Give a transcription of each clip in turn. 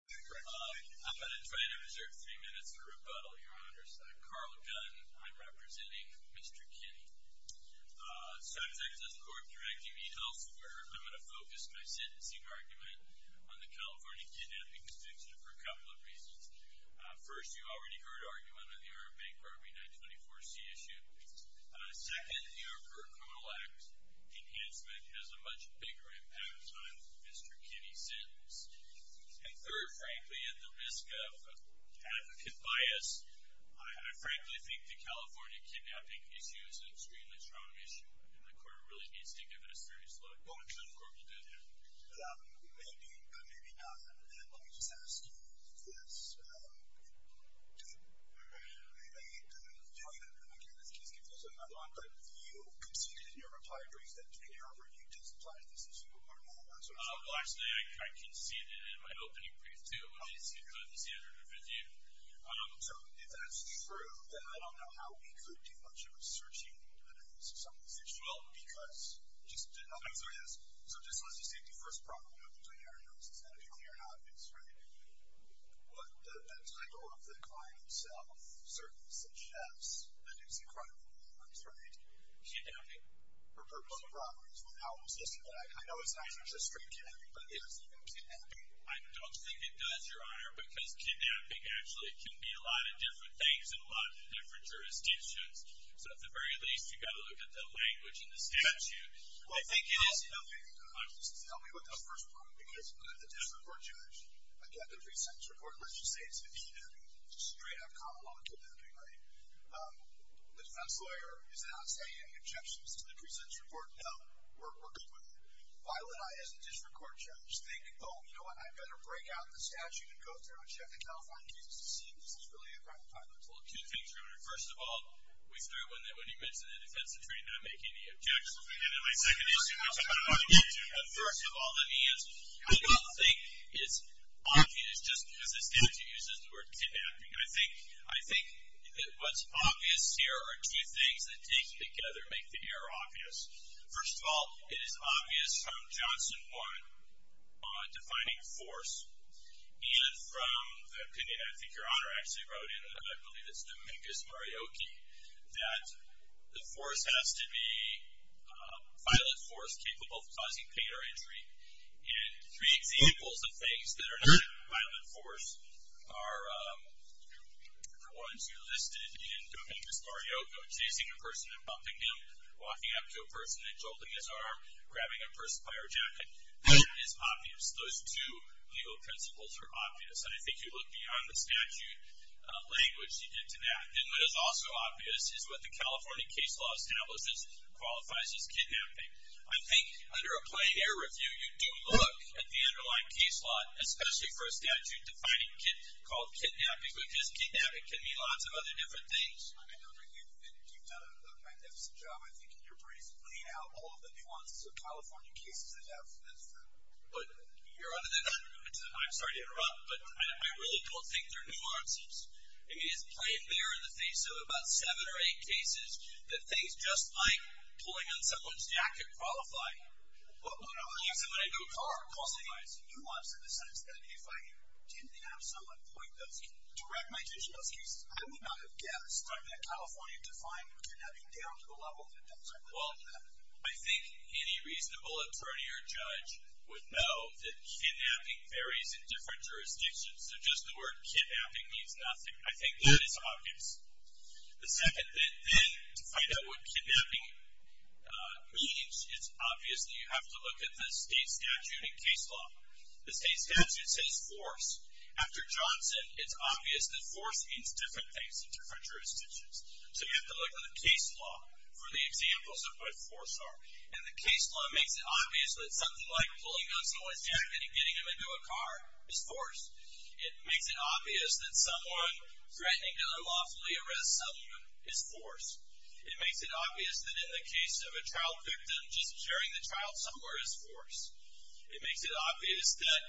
I'm going to try to reserve three minutes for rebuttal, your honors. I'm Carl Gunn. I'm representing Mr. Kenney. Subject is a court-directing e-health order. I'm going to focus my sentencing argument on the California Kidnapping Constitution for a couple of reasons. First, you already heard argument on the Arab Bank Robbery 924c issue. Second, the Affordable Care Act enhancement has a much bigger impact on Mr. Kenney's sentence. And third, frankly, at the risk of advocate bias, I frankly think the California kidnapping issue is an extremely strong issue. And the court really needs to give it a serious look. The court will do that. Maybe, but maybe not. Let me just ask you this. You conceded in your reply brief that your review does apply to this issue or not. Well, actually, I conceded in my opening brief, too. I didn't see it in the standard review. So if that's true, then I don't know how we could do much of a searching analysis of some of these issues. Well, because just to answer this, so just let's just take the first problem. I know you're doing your analysis, and I know you're in your office, right? But the title of the client itself certainly suggests that it's incredibly important, right? Kidnapping? I know it's not just street kidnapping, but it's even kidnapping. I don't think it does, Your Honor, because kidnapping actually can be a lot of different things in a lot of different jurisdictions. So at the very least, you've got to look at the language in the statute. Well, I think it is helping. Just help me with that first problem, because the district court judge, again, the pre-sentence report, let's just say it's a kidnapping. It's a straight-up common law kidnapping, right? The defense lawyer is not saying any objections to the pre-sentence report. No, we're good with it. Violet and I, as the district court judge, think, oh, you know what? I'd better break out the statute and go through and check it, and I'll find cases to see if this is really a crime of violence. Well, two things, Your Honor. First of all, we started with it when you mentioned the defense attorney not making any objections. Again, my second issue, which I'm going to get to, but first of all, let me answer. I don't think it's obvious just because the statute uses the word kidnapping. I think what's obvious here are two things that, taken together, make the error obvious. First of all, it is obvious from Johnson 1 on defining force, and from the opinion, I think, Your Honor actually wrote in, and I believe it's Dominguez Marioki, that the force has to be a violent force capable of causing pain or injury. Three examples of things that are not violent force are the ones you listed in Dominguez Marioki, chasing a person and bumping him, walking up to a person and jolting his arm, grabbing a person by her jacket. That is obvious. Those two legal principles are obvious, and I think you look beyond the statute language you did to that. Then what is also obvious is what the California case law establishes qualifies as kidnapping. I think under a plain error review, you do look at the underlying case law, especially for a statute defining kidnapping, called kidnapping, because kidnapping can mean lots of other different things. I mean, Your Honor, you've done a magnificent job, I think, in your brief, laying out all of the nuances of California cases that have been found. But Your Honor, I'm sorry to interrupt, but I really don't think they're nuances. I mean, it's plain there in the face of about seven or eight cases, that things just like pulling on someone's jacket qualify. Well, Your Honor, there are nuances in the sense that if I didn't have someone point those cases, direct my attention to those cases, I would not have guessed that California defined kidnapping down to the level that does qualify. Well, I think any reasonable attorney or judge would know that kidnapping varies in different jurisdictions. So just the word kidnapping means nothing. I think that is obvious. The second thing, then, to find out what kidnapping means, it's obvious that you have to look at the state statute and case law. The state statute says force. After Johnson, it's obvious that force means different things in different jurisdictions. So you have to look at the case law for the examples of what force are. And the case law makes it obvious that something like pulling on someone's jacket and getting them into a car is force. It makes it obvious that someone threatening to unlawfully arrest someone is force. It makes it obvious that in the case of a child victim, just carrying the child somewhere is force. It makes it obvious that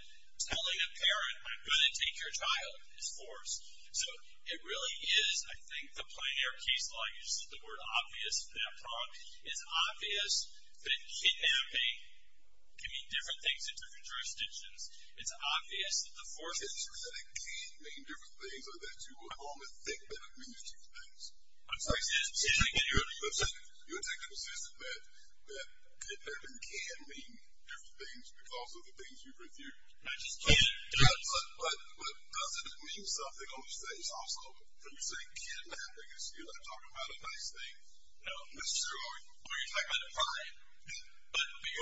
telling a parent, I'm going to take your child, is force. So it really is, I think, the plain air case law uses the word obvious for that problem. It's obvious that kidnapping can mean different things in different jurisdictions. It's obvious that the force is force. It's just that it can mean different things, or that you almost think that it means different things. I'm sorry. You're saying consistent that kidnapping can mean different things because of the things you've reviewed. I just can't. But doesn't it mean something on the state's office when you say kidnapping? Because you're not talking about a nice thing. No. Are you talking about a crime?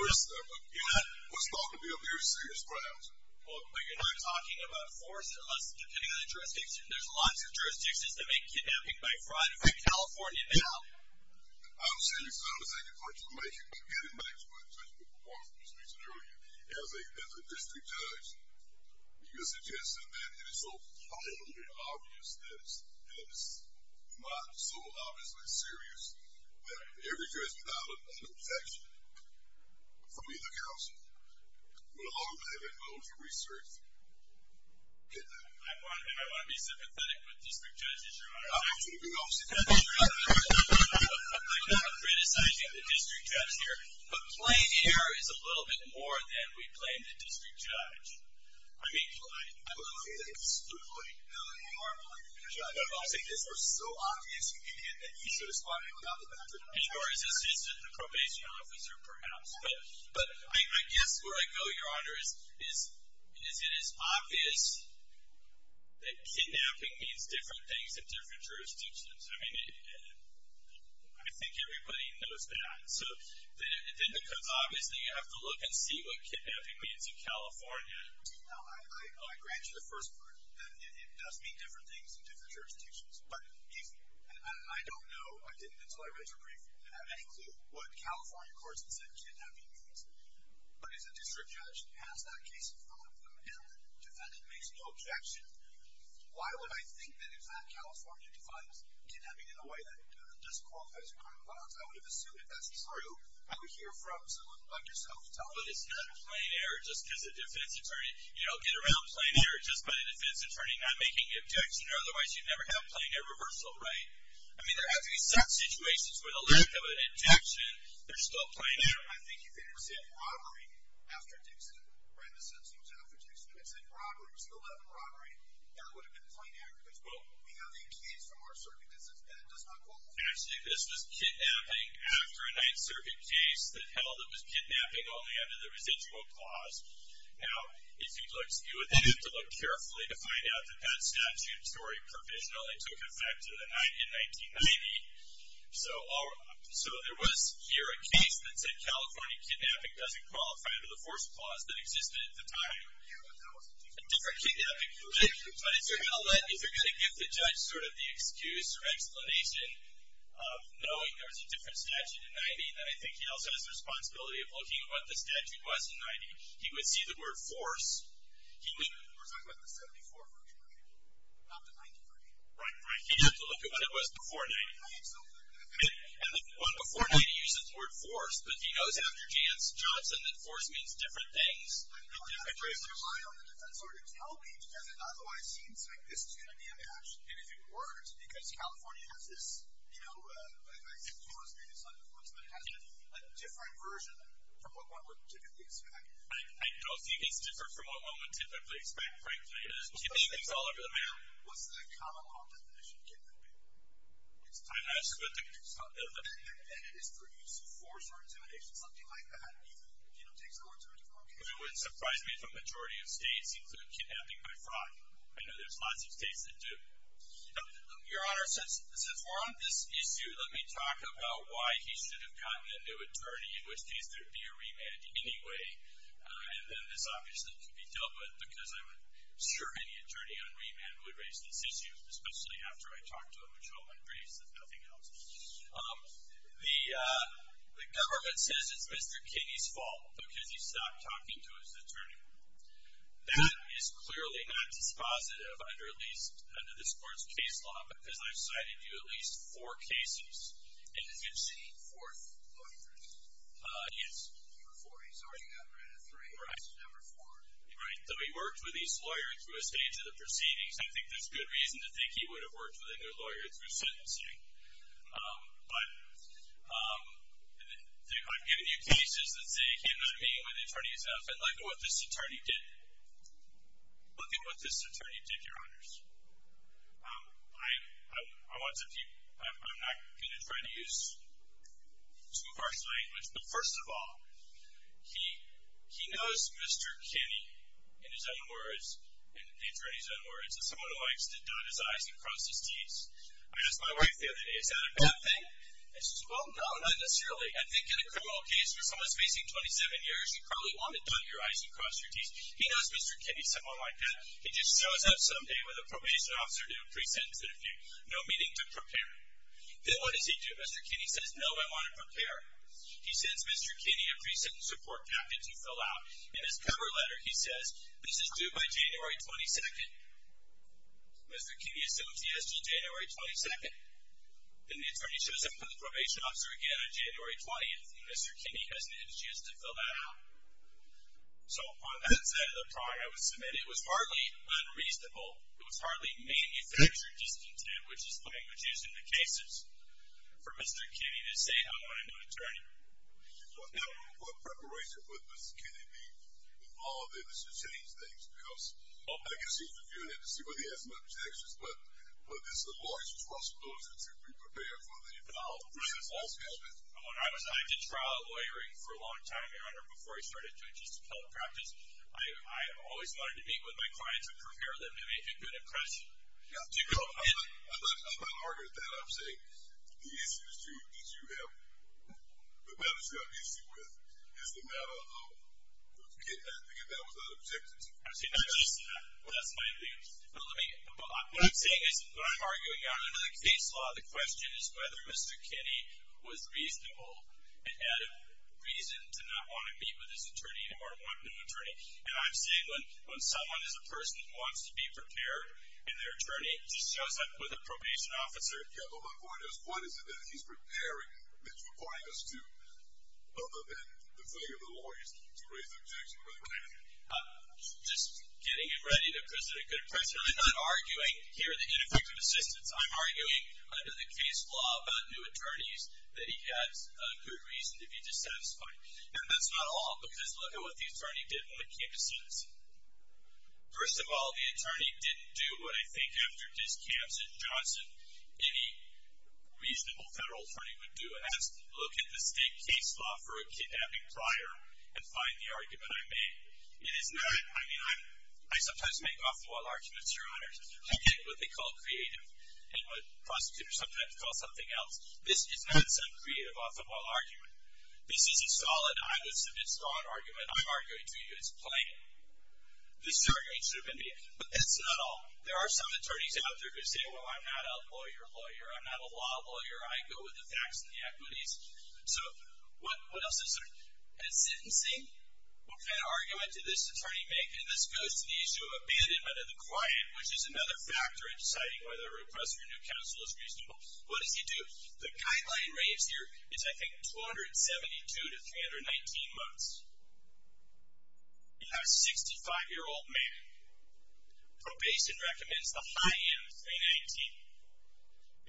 You're not. What's thought to be a very serious crime. Well, but you're not talking about force unless, depending on the jurisdiction, there's lots of jurisdictions that make kidnapping by fraud. In fact, California now. I'm serious. I don't think it's much information. But getting back to what Judge McCormick was mentioning earlier, as a district judge, you're suggesting that it is so plainly obvious that it's not so obviously serious that every judge would file a protection from either council. But along with that, there's loads of research. I want to be sympathetic with district judges, Your Honor. I'm actually a good officer. I'm not criticizing the district judge here. But plain error is a little bit more than we blame the district judge. I mean, I'm okay with excluding Melanie Harmon from the district judge. But I'll say this, it was so obvious you could get that you should have spotted me without the bathroom. And your assistant, the probation officer, perhaps. But I guess where I go, Your Honor, is it is obvious that kidnapping means different things in different jurisdictions. I mean, I think everybody knows that. So then because obviously you have to look and see what kidnapping means in California. No, I grant you the first part, that it does mean different things in different jurisdictions. But I don't know. I didn't until I read your brief. I have any clue what California courts have said kidnapping means. But as a district judge who has that case in front of them and the defendant makes no objection, why would I think that if that California defines kidnapping in a way that disqualifies a crime of violence, I would have assumed that that's true. I would hear from someone like yourself tell me. But it's not plain error just because a defense attorney, you know, get around plain error just by the defense attorney not making an objection. Otherwise, you'd never have plain error reversal, right? I mean, there have to be some situations where the lack of an objection, they're still plain error. I think you could have said robbery after Dixon, right, that would have been plain error because, well, we have a case from our circuit that does not qualify. Actually, this was kidnapping after a Ninth Circuit case that held it was kidnapping only under the residual clause. Now, you would have to look carefully to find out that that statute story provision only took effect in 1990. So there was here a case that said California kidnapping doesn't qualify under the fourth clause that existed at the time. A different kidnapping provision. But if you're going to give the judge sort of the excuse or explanation of knowing there was a different statute in 1990, then I think he also has the responsibility of looking at what the statute was in 1990. He would see the word force. We're talking about the 74, which we're looking at, not the 93. Right, right. He'd have to look at what it was before 1990. And the one before 1990 uses the word force, but he knows after Johnson that force means different things in different cases. I don't have to rely on the defense lawyer to tell me, because it otherwise seems like this is going to be a match. And if it were, it's because California has this, you know, I suppose maybe it's not a difference, but it has a different version from what one would typically expect. I don't think it's different from what one would typically expect, frankly. Typically, it's all over the map. What's the common law definition given? I'm asking what the common law definition is. And then it is for use of force or intimidation, something like that. He, you know, takes it over to a different case. It wouldn't surprise me if a majority of states include kidnapping by fraud. I know there's lots of states that do. Your Honor, since we're on this issue, let me talk about why he should have gotten a new attorney, in which case there would be a remand anyway. And then this obviously could be dealt with, because I'm sure any attorney on remand would raise this issue, especially after I talk to him and show him my briefs, if nothing else. The government says it's Mr. Kinney's fault, because he stopped talking to his attorney. That is clearly not dispositive under this court's case law, because I've cited you at least four cases. And you've seen four lawyers. Yes. You were 40, so you got rid of three. Right. This is number four. Right. So he worked with each lawyer through a stage of the proceedings. I think there's good reason to think he would have worked with another lawyer through sentencing. But I've given you cases that say, here's what I mean by the attorney is F, and look at what this attorney did. Look at what this attorney did, Your Honors. I'm not going to try to use some harsh language, but first of all, he knows Mr. Kinney, in his own words, in the attorney's own words, is someone who likes to dot his I's and cross his T's. I asked my wife the other day, is that a bad thing? And she said, well, no, not necessarily. I think in a criminal case where someone's facing 27 years, you probably want to dot your I's and cross your T's. He knows Mr. Kinney is someone like that. He just shows up some day with a probation officer to do a pre-sentence interview, no meaning to prepare him. Then what does he do? Mr. Kinney says, no, I want to prepare. He sends Mr. Kinney a pre-sentence support packet to fill out. In his cover letter, he says, this is due by January 22nd. Mr. Kinney assumes he has until January 22nd. Then the attorney shows up with a probation officer again on January 20th, and Mr. Kinney hasn't had a chance to fill that out. So on that side of the pie, I would submit it was hardly unreasonable. It was hardly manufactured discontent, which is the language used in the cases for Mr. Kinney to say, I want a new attorney. What preparation with Mr. Kinney being involved in this has changed things, because I guess he's reviewing it to see what he has for objections, but there's a lawyer's responsibility to be prepared for the involvement. I did trial lawyering for a long time, Your Honor, before I started doing just appellate practice. I always wanted to meet with my clients and prepare them to make a good impression. I'm not arguing with that. I'm saying the issue that you have, the matters you have an issue with is the matter of, I think that was an objection to. That's my view. What I'm saying is, what I'm arguing, under the case law, the question is whether Mr. Kinney was reasonable and had a reason to not want to meet with his attorney or want a new attorney. And I'm saying when someone is a person who wants to be prepared, and their attorney just shows up with a probation officer, what is it that he's preparing that's requiring us to, other than the failure of the lawyers, to raise objections where they can. Just getting him ready to present a good impression. I'm not arguing here that ineffective assistance. I'm arguing under the case law about new attorneys that he has a good reason to be dissatisfied. And that's not all, because look at what the attorney did on the campus suit. First of all, the attorney didn't do what I think after his camps at Johnson, any reasonable federal attorney would do, and that's look at the state case law for a kidnapping prior and find the argument I made. It is not, I mean, I sometimes make off-the-wall arguments, Your Honors. I get what they call creative and what prosecutors sometimes call something else. This is not some creative off-the-wall argument. This is a solid, I would submit, strong argument. I'm arguing to you it's plain. This is the argument you should have been making. But that's not all. There are some attorneys out there who say, well, I'm not a lawyer lawyer. I'm not a law lawyer. I go with the facts and the equities. So what else is there? And sentencing? What kind of argument did this attorney make? And this goes to the issue of abandonment of the client, which is another factor in deciding whether a request for a new counsel is reasonable. What does he do? The guideline raised here is, I think, 272 to 319 months. You have a 65-year-old man. Probation recommends the high end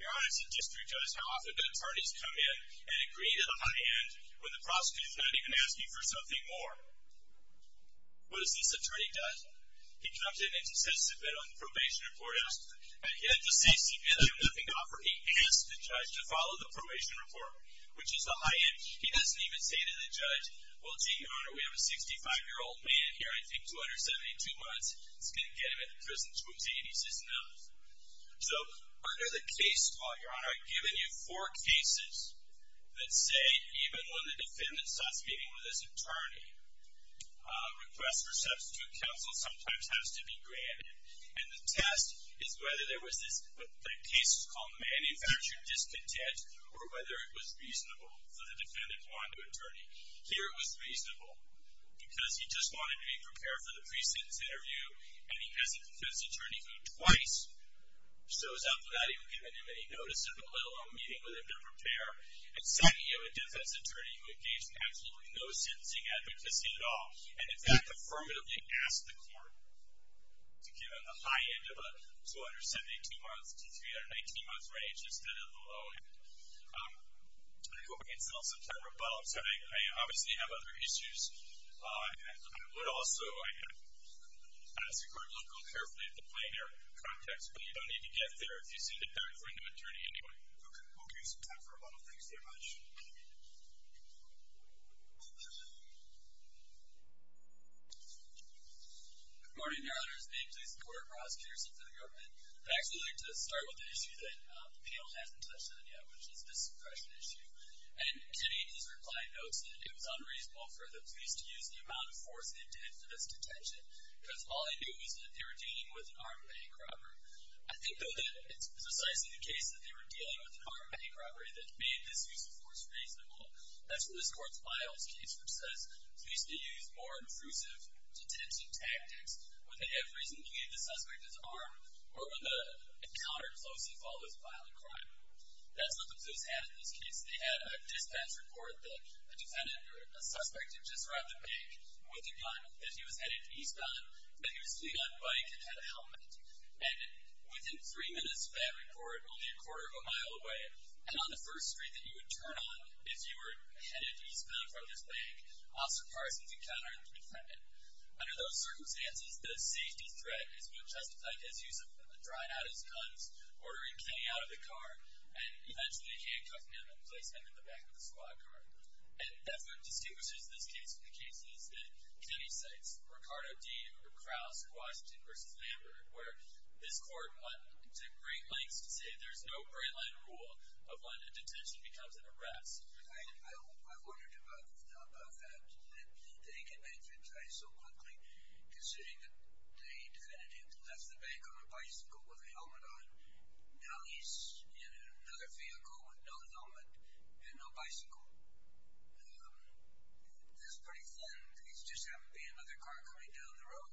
319. Your Honors and District Judge, how often do attorneys come in and agree to the high end when the prosecutor's not even asking for something more? What does this attorney do? He comes in and he says submit on the probation report. He has the safety and nothing to offer. He asks the judge to follow the probation report, which is the high end. He doesn't even say to the judge, well, gee, Your Honor, we have a 65-year-old man here. I think 272 months is going to get him in prison. He says no. So under the case law, Your Honor, I've given you four cases that say even when the defendant starts speaking with this attorney, request for substitute counsel sometimes has to be granted. And the test is whether there was this case called manufactured discontent or whether it was reasonable for the defendant to want a new attorney. Here it was reasonable because he just wanted to be prepared for the pre-sentence interview, and he has a defense attorney who twice shows up without even giving him any notice of it, let alone meeting with him to prepare. And second, you have a defense attorney who engaged in absolutely no sentencing advocacy at all, and in fact, affirmatively asked the court to give him the high end of a 272 month to 319 month range instead of the low end. I hope we can sell some time for a bottle. I obviously have other issues. I would also ask the court to look more carefully at the plain air context, but you don't need to get there. If you send it back for a new attorney anyway. Okay. We'll give you some time for a bottle. Thank you very much. Good morning, Your Honor. Good morning. I'm going to start with the issue that the panel hasn't touched on yet, which is this suppression issue. And Kennedy, in his reply, notes that it was unreasonable for the police to use the amount of force they did for this detention because all he knew was that they were dealing with an armed bank robber. I think, though, that it's precisely the case that they were dealing with an armed bank robber that made this use of force reasonable. That's what this court's files case, which says police may use more intrusive detention tactics when they have reason to believe the suspect is armed, or when the encounter closely follows a violent crime. That's what the police had in this case. They had a dispatch report that a defendant, or a suspect had just robbed a bank with a gun that he was headed east on, that he was fleeing on a bike and had a helmet. And within three minutes of that report, only a quarter of a mile away, and on the first street that you would turn on if you were headed east to flee from this bank, Officer Parsons encountered the defendant. Under those circumstances, the safety threat is what justified his use of a drone out of his guns, ordering Kenny out of the car, and eventually handcuffing him and placing him in the back of the squad car. And that's what distinguishes this case from the cases that Kenny cites, Ricardo D. or Krauss, Washington v. Lambert, where this court went to great lengths to say there's no great line of rule of when a detention becomes an arrest. I wondered about that. They can advertise so quickly, considering that the defendant had left the bank on a bicycle with a helmet on. Now he's in another vehicle with no helmet and no bicycle. This is pretty flimsy. It's just happened to be another car coming down the road.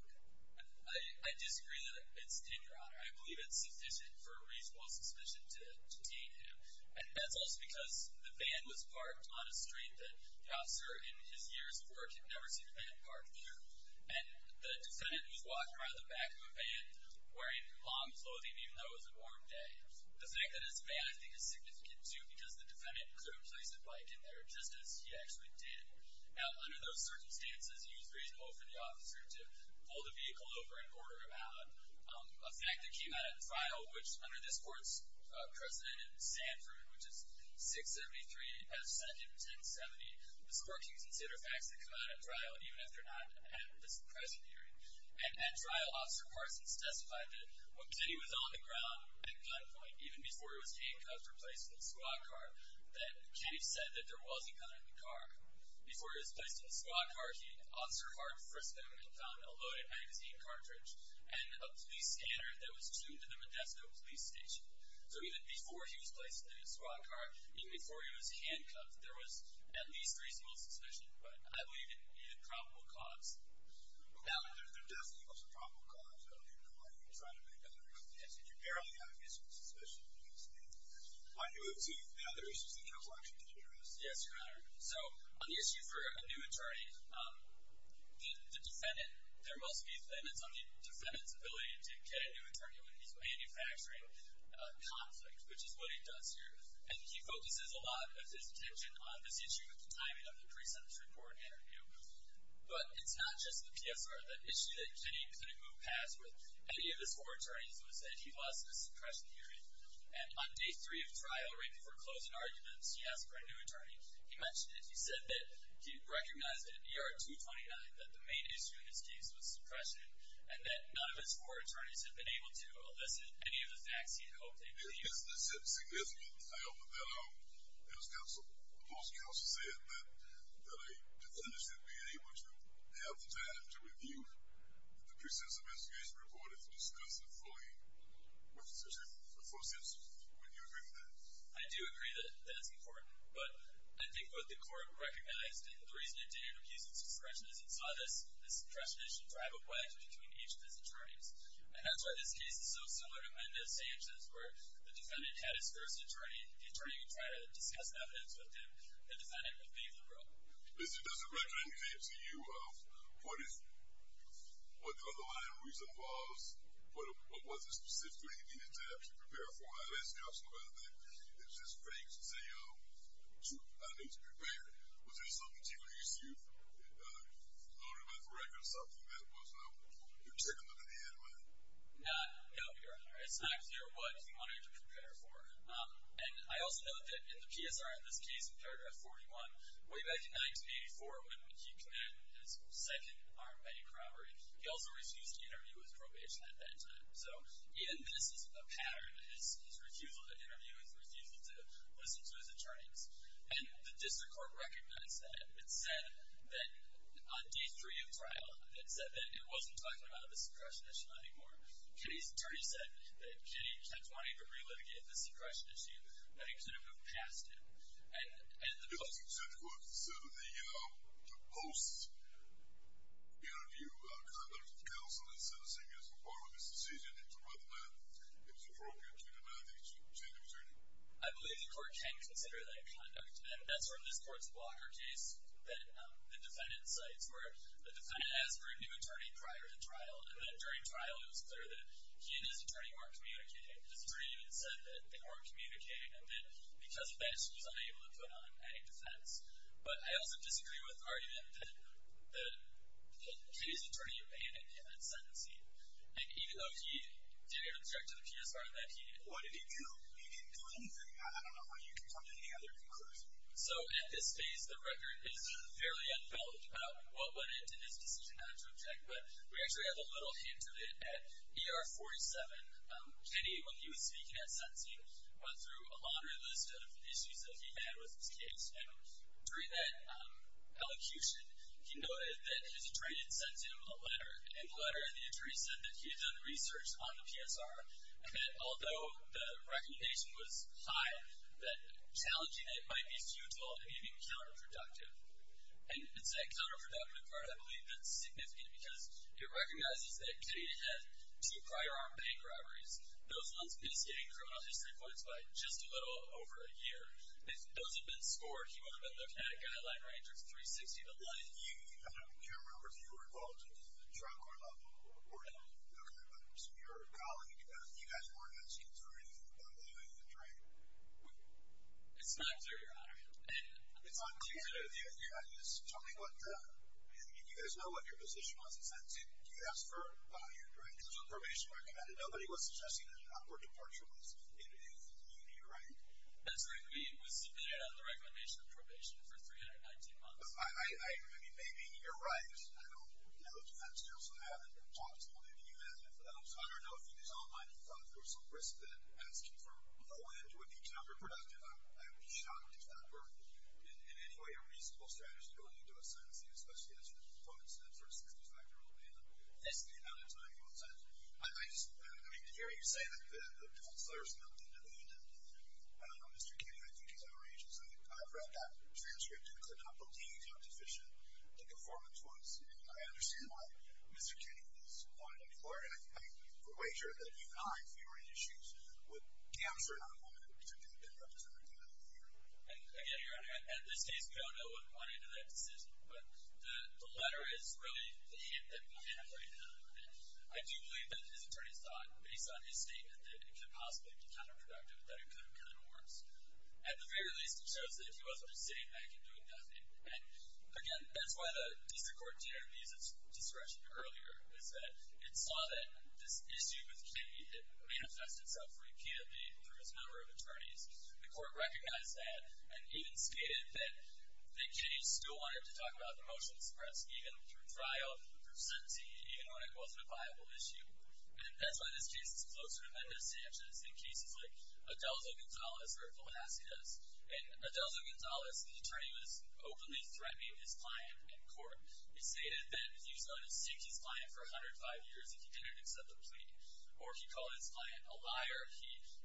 I disagree that it's tender honor. I believe it's sufficient for a reasonable suspicion to detain him. And that's also because the van was parked on a street that the officer, in his years of work, had never seen a van parked there. And the defendant was walking around the back of a van wearing long clothing, even though it was a warm day. The fact that it's a van I think is significant, too, because the defendant could have placed a bike in there, just as he actually did. Now, under those circumstances, he was reasonable for the officer to pull the vehicle over and order him out. A fact that came out at trial, which under this court's precedent in Sanford, which is 673 F. Senate 1070, the court can consider facts that come out at trial, even if they're not at this present hearing. At trial, Officer Parsons testified that when Kenny was on the ground at gunpoint, even before he was handcuffed or placed in the squad car, that Kenny said that there was a gun in the car. Before he was placed in the squad car, Officer Hart frisked him and found a loaded magazine cartridge and a police scanner that was tuned to the Modesto police station. So even before he was placed in the squad car, even before he was handcuffed, there was at least reasonable suspicion, but I believe it needed probable cause. Now, there definitely was a probable cause. I don't even know why you were trying to make that a reasonable guess. If you barely have a reasonable suspicion, you can just make that a reasonable guess. Why do you obtain the other reasons that counsel actually did arrest him? Yes, Your Honor. So on the issue for a new attorney, the defendant, there must be defendants on the defendant's ability to get a new attorney when he's manufacturing a conflict, which is what he does here. And he focuses a lot of his attention on this issue with the timing of the pre-sentence report interview. But it's not just the PSR. The issue that Kenny couldn't move past with any of his four attorneys was that he lost a suppression hearing. And on day three of trial, right before closing arguments, he asked for a new attorney. He mentioned it. He said that he recognized that ER 229, that the main issue in this case was suppression, and that none of his four attorneys had been able to elicit any of the facts he hoped they believed. Is this a significant time that, as counsel, the post-counsel said, that a defendant should be able to have the time to review the pre-sentence investigation report and to discuss it fully? Would you agree with that? I do agree that that's important. But I think what the court recognized, and the reason it didn't recuse the suppression, is it saw this suppression issue drive a wedge between each of his attorneys. And that's why this case is so similar to Mendoz-Sanchez, where the defendant had his first attorney, and the attorney would try to discuss evidence with him. The defendant would fade the room. Does the record indicate to you what the underlying reason was, what was it specifically he needed to actually prepare for? As counsel, about that, it's just vague to say, oh, I need to prepare. Was there something to release you, Lord, about the record or something that was not particular to the end line? No, Your Honor. It's not clear what he wanted to prepare for. And I also note that in the PSR, in this case, in paragraph 41, way back in 1984, when he committed his second armed body corroborate, he also refused to interview with probation at that time. So even this is a pattern. His refusal to interview is refusal to listen to his attorneys. And the district court recognized that. It said that on day three of trial, it said that it wasn't talking about the suppression issue anymore. Kenny's attorney said that Kenny kept wanting to relitigate the suppression issue, but he couldn't have passed it. Does the district court consider the post-interview conduct of counsel in sentencing as a part of his decision as to whether or not it was appropriate to deny the change of attorney? I believe the court can consider that conduct. And that's from this court's blocker case that the defendant cites, where the defendant asked for a new attorney prior to trial. And then during trial, it was clear that he and his attorney weren't communicating. His attorney even said that they weren't communicating and that because of that, she was unable to put on any defense. But I also disagree with the argument that Kenny's attorney abandoned him at sentencing. And even though he didn't object to the PSR event, he didn't do anything. I don't know how you can come to any other conclusion. So at this phase, the record is fairly unfilled. What led to his decision not to object? We actually have a little hint of it at ER 47. Kenny, when he was speaking at sentencing, went through a laundry list of issues that he had with his case. And during that elocution, he noted that his attorney had sent him a letter. And in the letter, the attorney said that he had done research on the PSR and that although the recommendation was high, that challenging it might be futile and even counterproductive. And it's that counterproductive part, I believe, that's significant because it recognizes that Kenny had two prior armed bank robberies. Those ones initiate criminal history points by just a little over a year. If those had been scored, he would have been looking at a guideline range of 360 to 1. I don't care whether you were involved in the drug or not, but your colleague, you guys weren't asking for anything other than a drink. It's not clear, Your Honor. It's not clear. Tell me, do you guys know what your position was at sentencing? Did you ask for your drink? It was on probation recommended. Nobody was suggesting that an upward departure was needed in the community, right? That's right. It was submitted on the recommendation of probation for 319 months. I mean, maybe you're right. I don't know. Defense counsel, I haven't talked to him. Maybe you have. So I don't know if you guys all might have thought there was some risk that asking for a drink would be counterproductive. I would be shocked if that were in any way a reasonable strategy going into a sentencing, especially as far as the 65-year-old man. Yes, Your Honor. I mean, to hear you say that the counselor is not independent, I don't know, Mr. Kinney, I think he's our agent. I read that transcript and could not believe how deficient the performance was. And I understand why Mr. Kinney was appointed a lawyer. I'm way sure that you guys, if you were in issues, would capture not one of the particular conductors in the community. And, again, Your Honor, at this case, we don't know what went into that decision, but the letter is really the hint that we have right now. And I do believe that his attorneys thought, based on his statement that it could possibly be counterproductive, that it could have gotten worse. At the very least, it shows that he wasn't just sitting back and doing nothing. And, again, that's why the district court didn't use its discretion earlier, is that it saw that this issue with Kinney, it manifested itself repeatedly through his number of attorneys. The court recognized that and even stated that the case still wanted to talk about the motion to suppress, even through trial, even through sentencing, even when it wasn't a viable issue. And that's why this case is closer to Mendoza-Sanchez than cases like Adelzo-Gonzalez or Velazquez. In Adelzo-Gonzalez, the attorney was openly threatening his client in court. He stated that he was willing to seek his client for 105 years if he didn't accept the plea. Or he called his client a liar.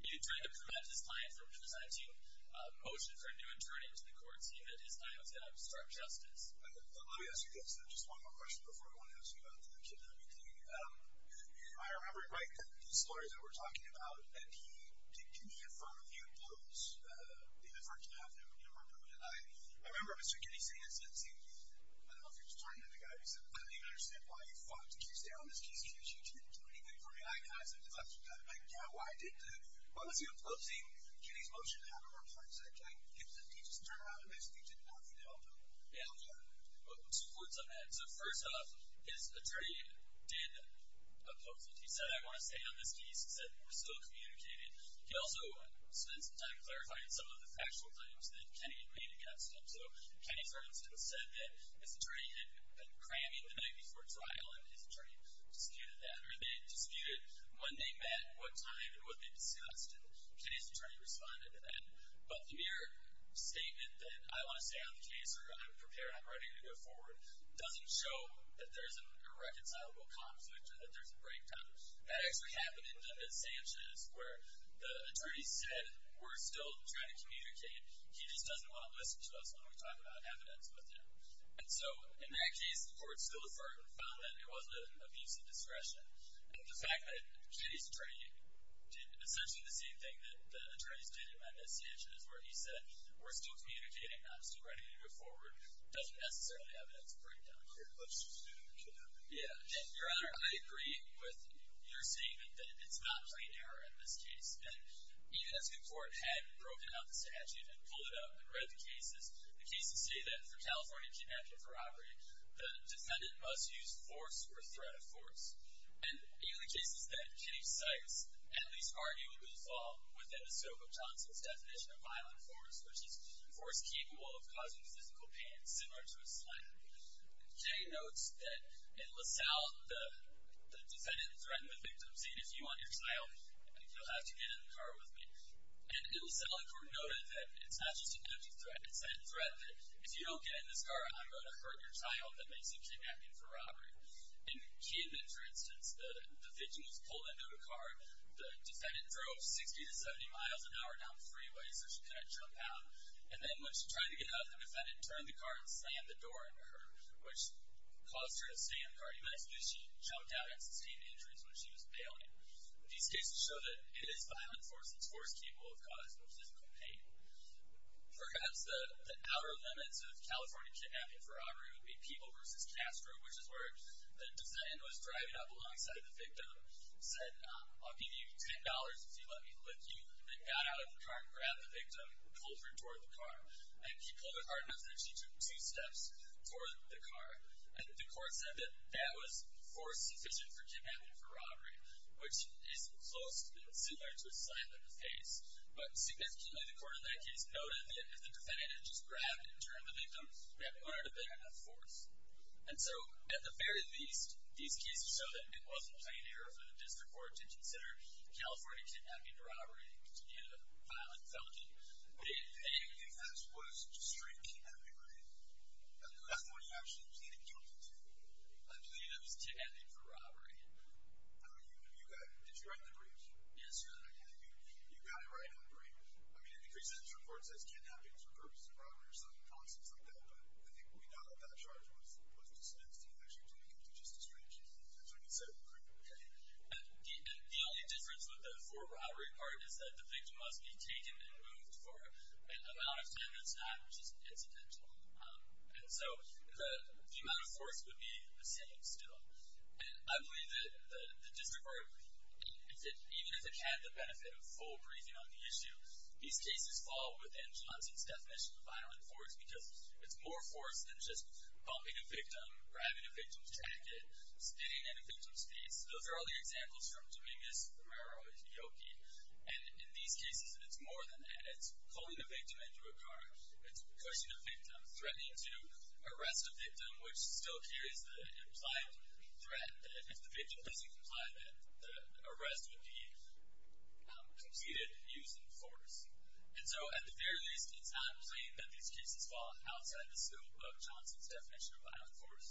He tried to prevent his client from presenting a motion for a new attorney to the court so he knew that his client was going to obstruct justice. Let me ask you guys just one more question before I want to ask you about the kidnapping thing. I remember, right, the stories that we were talking about, and he did give me in front of you those efforts to have him removed. And I remember Mr. Kinney saying in sentencing, I don't know if he was talking to the guy, he said, I don't even understand why you fought to keep stay on this case. Because you didn't do anything for me. And I said, yeah, why didn't you? Why was he opposing Kinney's motion to have him replaced? He just turned around and basically did nothing to help him. Yeah. Two points on that. So first off, his attorney did oppose it. He said, I want to stay on this case. He said, we're still communicating. He also spent some time clarifying some of the factual claims that Kinney had made against him. So Kinney, for instance, said that his attorney had been cramming the night before trial, and his attorney disputed that. Or they disputed when they met, what time, and what they discussed. And Kinney's attorney responded to that. But the mere statement that I want to stay on the case or I'm prepared, I'm ready to go forward doesn't show that there's a reconcilable conflict or that there's a breakdown. That actually happened in Dundas-Sanchez, where the attorney said, we're still trying to communicate. He just doesn't want to listen to us when we talk about evidence with him. And so in that case, the court still found that it wasn't an abuse of discretion. And the fact that Kinney's attorney did essentially the same thing that the attorneys did in Dundas-Sanchez, where he said, we're still communicating, I'm still ready to go forward, doesn't necessarily evidence a breakdown here. But she's doing a good job. Yeah. Your Honor, I agree with your statement that it's not plain error in this case. And even as the court had broken out the statute and pulled it up and read the cases, the cases say that for California kidnapping for robbery, the defendant must use force or threat of force. And even the cases that Kinney cites, at least arguably, fall within the scope of Johnson's definition of violent force, which is force capable of causing physical pain, similar to a slap. Jay notes that in LaSalle, the defendant threatened the victim, saying, if you want your child, you'll have to get in the car with me. And in LaSalle, the court noted that it's not just an empty threat. It's that threat that, if you don't get in this car, I'm going to hurt your child that makes you kidnapping for robbery. In Key Inventory, for instance, the victim was pulled into the car. The defendant drove 60 to 70 miles an hour down the freeway so she couldn't jump out. And then when she tried to get out, the defendant turned the car and slammed the door into her, which caused her to stay in the car, even as she jumped out and sustained injuries when she was bailing. These cases show that it is violent force that's force capable of causing physical pain. Perhaps the outer limits of California kidnapping for robbery would be People v. Castro, which is where the defendant was driving up alongside the victim, said, I'll give you $10 if you let me lick you, and got out of the car and grabbed the victim and pulled her toward the car. And he pulled her hard enough that she took two steps toward the car. And the court said that that was force sufficient for kidnapping for robbery, which is close and similar to a slap in the face. But significantly, the court in that case noted that if the defendant had just grabbed and turned the victim, that wouldn't have been enough force. And so, at the very least, these cases show that it wasn't plain error for the district court to consider California kidnapping for robbery to be a violent felony. They didn't think this was just straight kidnapping, right? At least when you actually pleaded guilty to it. I pleaded it was kidnapping for robbery. Did you write the brief? Yes, sir. You got it right on the brief. I mean, it decreases in this report. It says kidnapping is for purposes of robbery or something, constants like that. But I think when we know that that charge was dismissed, you actually plead guilty to just a straight case. That's what you said, correct? Correct. And the only difference with the for robbery part is that the victim must be taken and moved for an amount of time that's not incidental. And so, the amount of force would be the same still. And I believe that the district court, even if it had the benefit of full briefing on the issue, these cases fall within Johnson's definition of violent force because it's more force than just bumping a victim, grabbing a victim's jacket, spitting in a victim's face. Those are all the examples from Dominguez, Romero, and Hioki. And in these cases, it's more than that. It's pulling a victim into a car. It's pushing a victim, threatening to arrest a victim, which still carries the implied threat that if the victim doesn't comply, that the arrest would be completed using force. And so, at the very least, it's not plain that these cases fall outside the scope of Johnson's definition of violent force,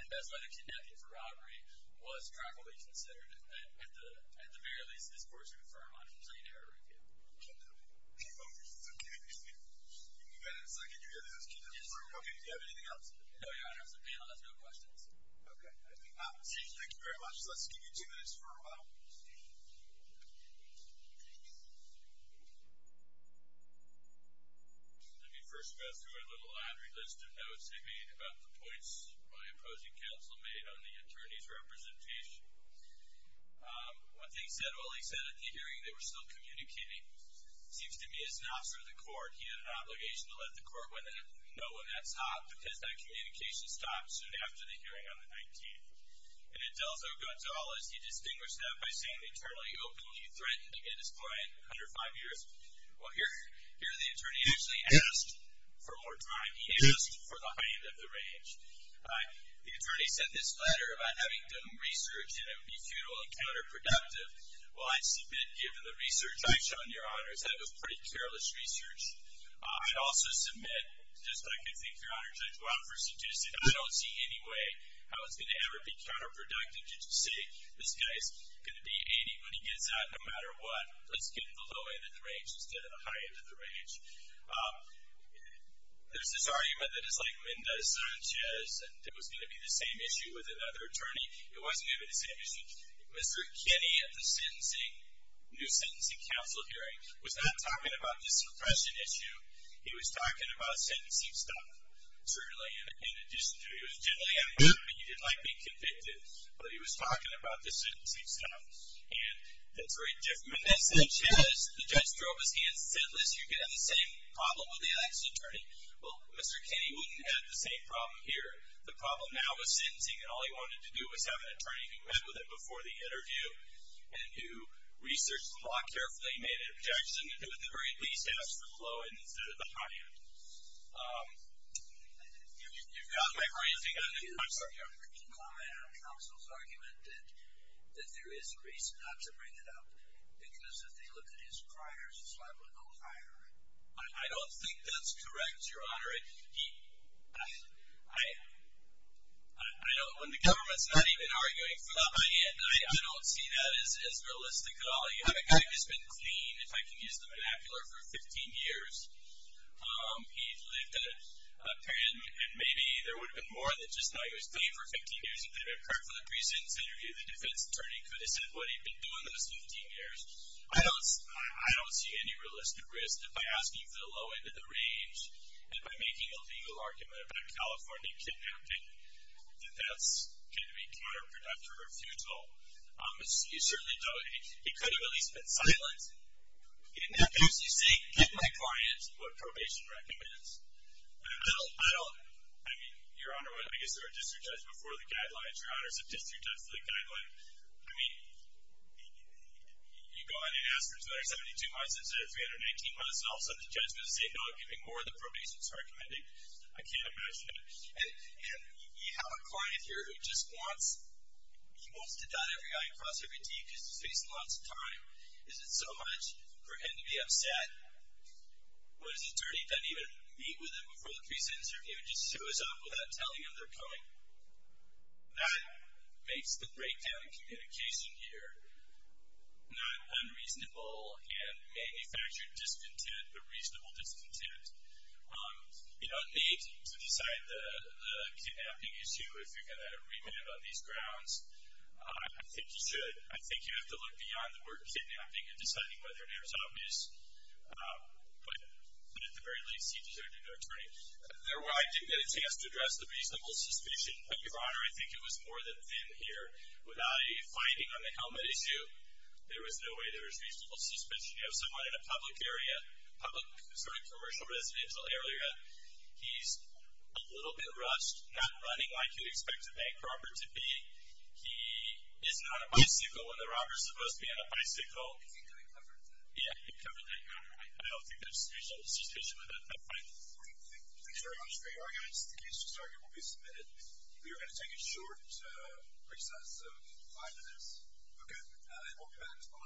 and that's why the kidnapping for robbery was properly considered. At the very least, this court's going to confirm on a plain error again. Kidnapping. Oh, that's so good. You got it in a second. You got it in a second. Okay, do you have anything else? No, Your Honor. The panel has no questions. Okay. Thank you very much. Let's give you two minutes for a while. Let me first go through a little laundry list of notes they made about the points my opposing counsel made on the attorney's representation. One thing he said, well, he said at the hearing they were still communicating. It seems to me as an officer of the court, he had an obligation to let the court know when that's hot, because that communication stopped soon after the hearing on the 19th. And Adelzo Gonzales, he distinguished that by saying internally openly threatened to get his client under five years. Well, here the attorney actually asked for more time. He asked for the high end of the range. The attorney sent this letter about having done research and it would be futile and counterproductive. Well, I submit, given the research I've shown, Your Honors, that it was pretty careless research. I also submit, just like I think, Your Honors, I do offer seducing. I don't see any way how it's going to ever be counterproductive to just say, this guy's going to be 80 when he gets out no matter what. Let's get him the low end of the range instead of the high end of the range. There's this argument that it's like Mendoza-Sanchez and it was going to be the same issue with another attorney. It wasn't going to be the same issue. Mr. Kinney at the sentencing, new sentencing counsel hearing, was not talking about this suppression issue. He was talking about sentencing stuff. Certainly, in addition to, he was generally having fun, but he didn't like being convicted. But he was talking about the sentencing stuff. And that's very different. Mendoza-Sanchez, the judge drove his hand, said, Liz, you're going to have the same problem with the next attorney. Well, Mr. Kinney wouldn't have the same problem here. The problem now with sentencing, all he wanted to do was have an attorney who met with him before the sentence and who, at the very least, had us the low end instead of the high end. You've got my brain thinking. I'm sorry. Your Honor, counsel's argument that there is a reason not to bring it up because if they looked at his prior, his level would go higher. I don't think that's correct, Your Honor. When the government is not even arguing for the high end, I don't see that as realistic at all. You have a guy who's been clean, if I can use the vernacular, for 15 years. He lived a period, and maybe there would have been more than just how he was clean for 15 years. If they had been prepared for the precedence interview, the defense attorney could have said what he'd been doing those 15 years. I don't see any realistic risk that by asking for the low end of the range and by making a legal argument about California kidnapping, that that's going to be counterproductive or futile. You certainly don't. It could have at least been silenced. In that case, you say, get my client what probation recommends. I don't, I mean, Your Honor, what I guess there were district judge before the guidelines. Your Honor, some district judge to the guidelines. I mean, you go on and ask for 272 months instead of 319 months, and all of a sudden the judge is going to say, no, I'm giving more than probation is recommending. I can't imagine that. And you have a client here who just wants, he wants to dot every i and cross every t because he's facing lots of time. Is it so much for him to be upset when his attorney doesn't even meet with him before the precedence interview and just shows up without telling him they're coming? That makes the breakdown in communication here not unreasonable and manufactured discontent, but reasonable discontent. You don't need to decide the kidnapping issue if you're going to remand on these grounds. I think you should. I think you have to look beyond the word kidnapping and deciding whether or not it was obvious. But at the very least, he deserved a new attorney. I didn't get a chance to address the reasonable suspicion. Your Honor, I think it was more than thin here. Without a finding on the helmet issue, there was no way there was reasonable suspicion. You have someone in a public area, a public sort of commercial residential area. He's a little bit rushed, not running like you'd expect a bank robber to be. He is not a bicycle when the robber is supposed to be on a bicycle. I think I covered that. Yeah, you covered that, Your Honor. I don't think there's reasonable suspicion with that. Thank you very much for your arguments. The case to start here will be submitted. We are going to take a short recess, so five minutes. Okay. And we'll be back as well. Thank you.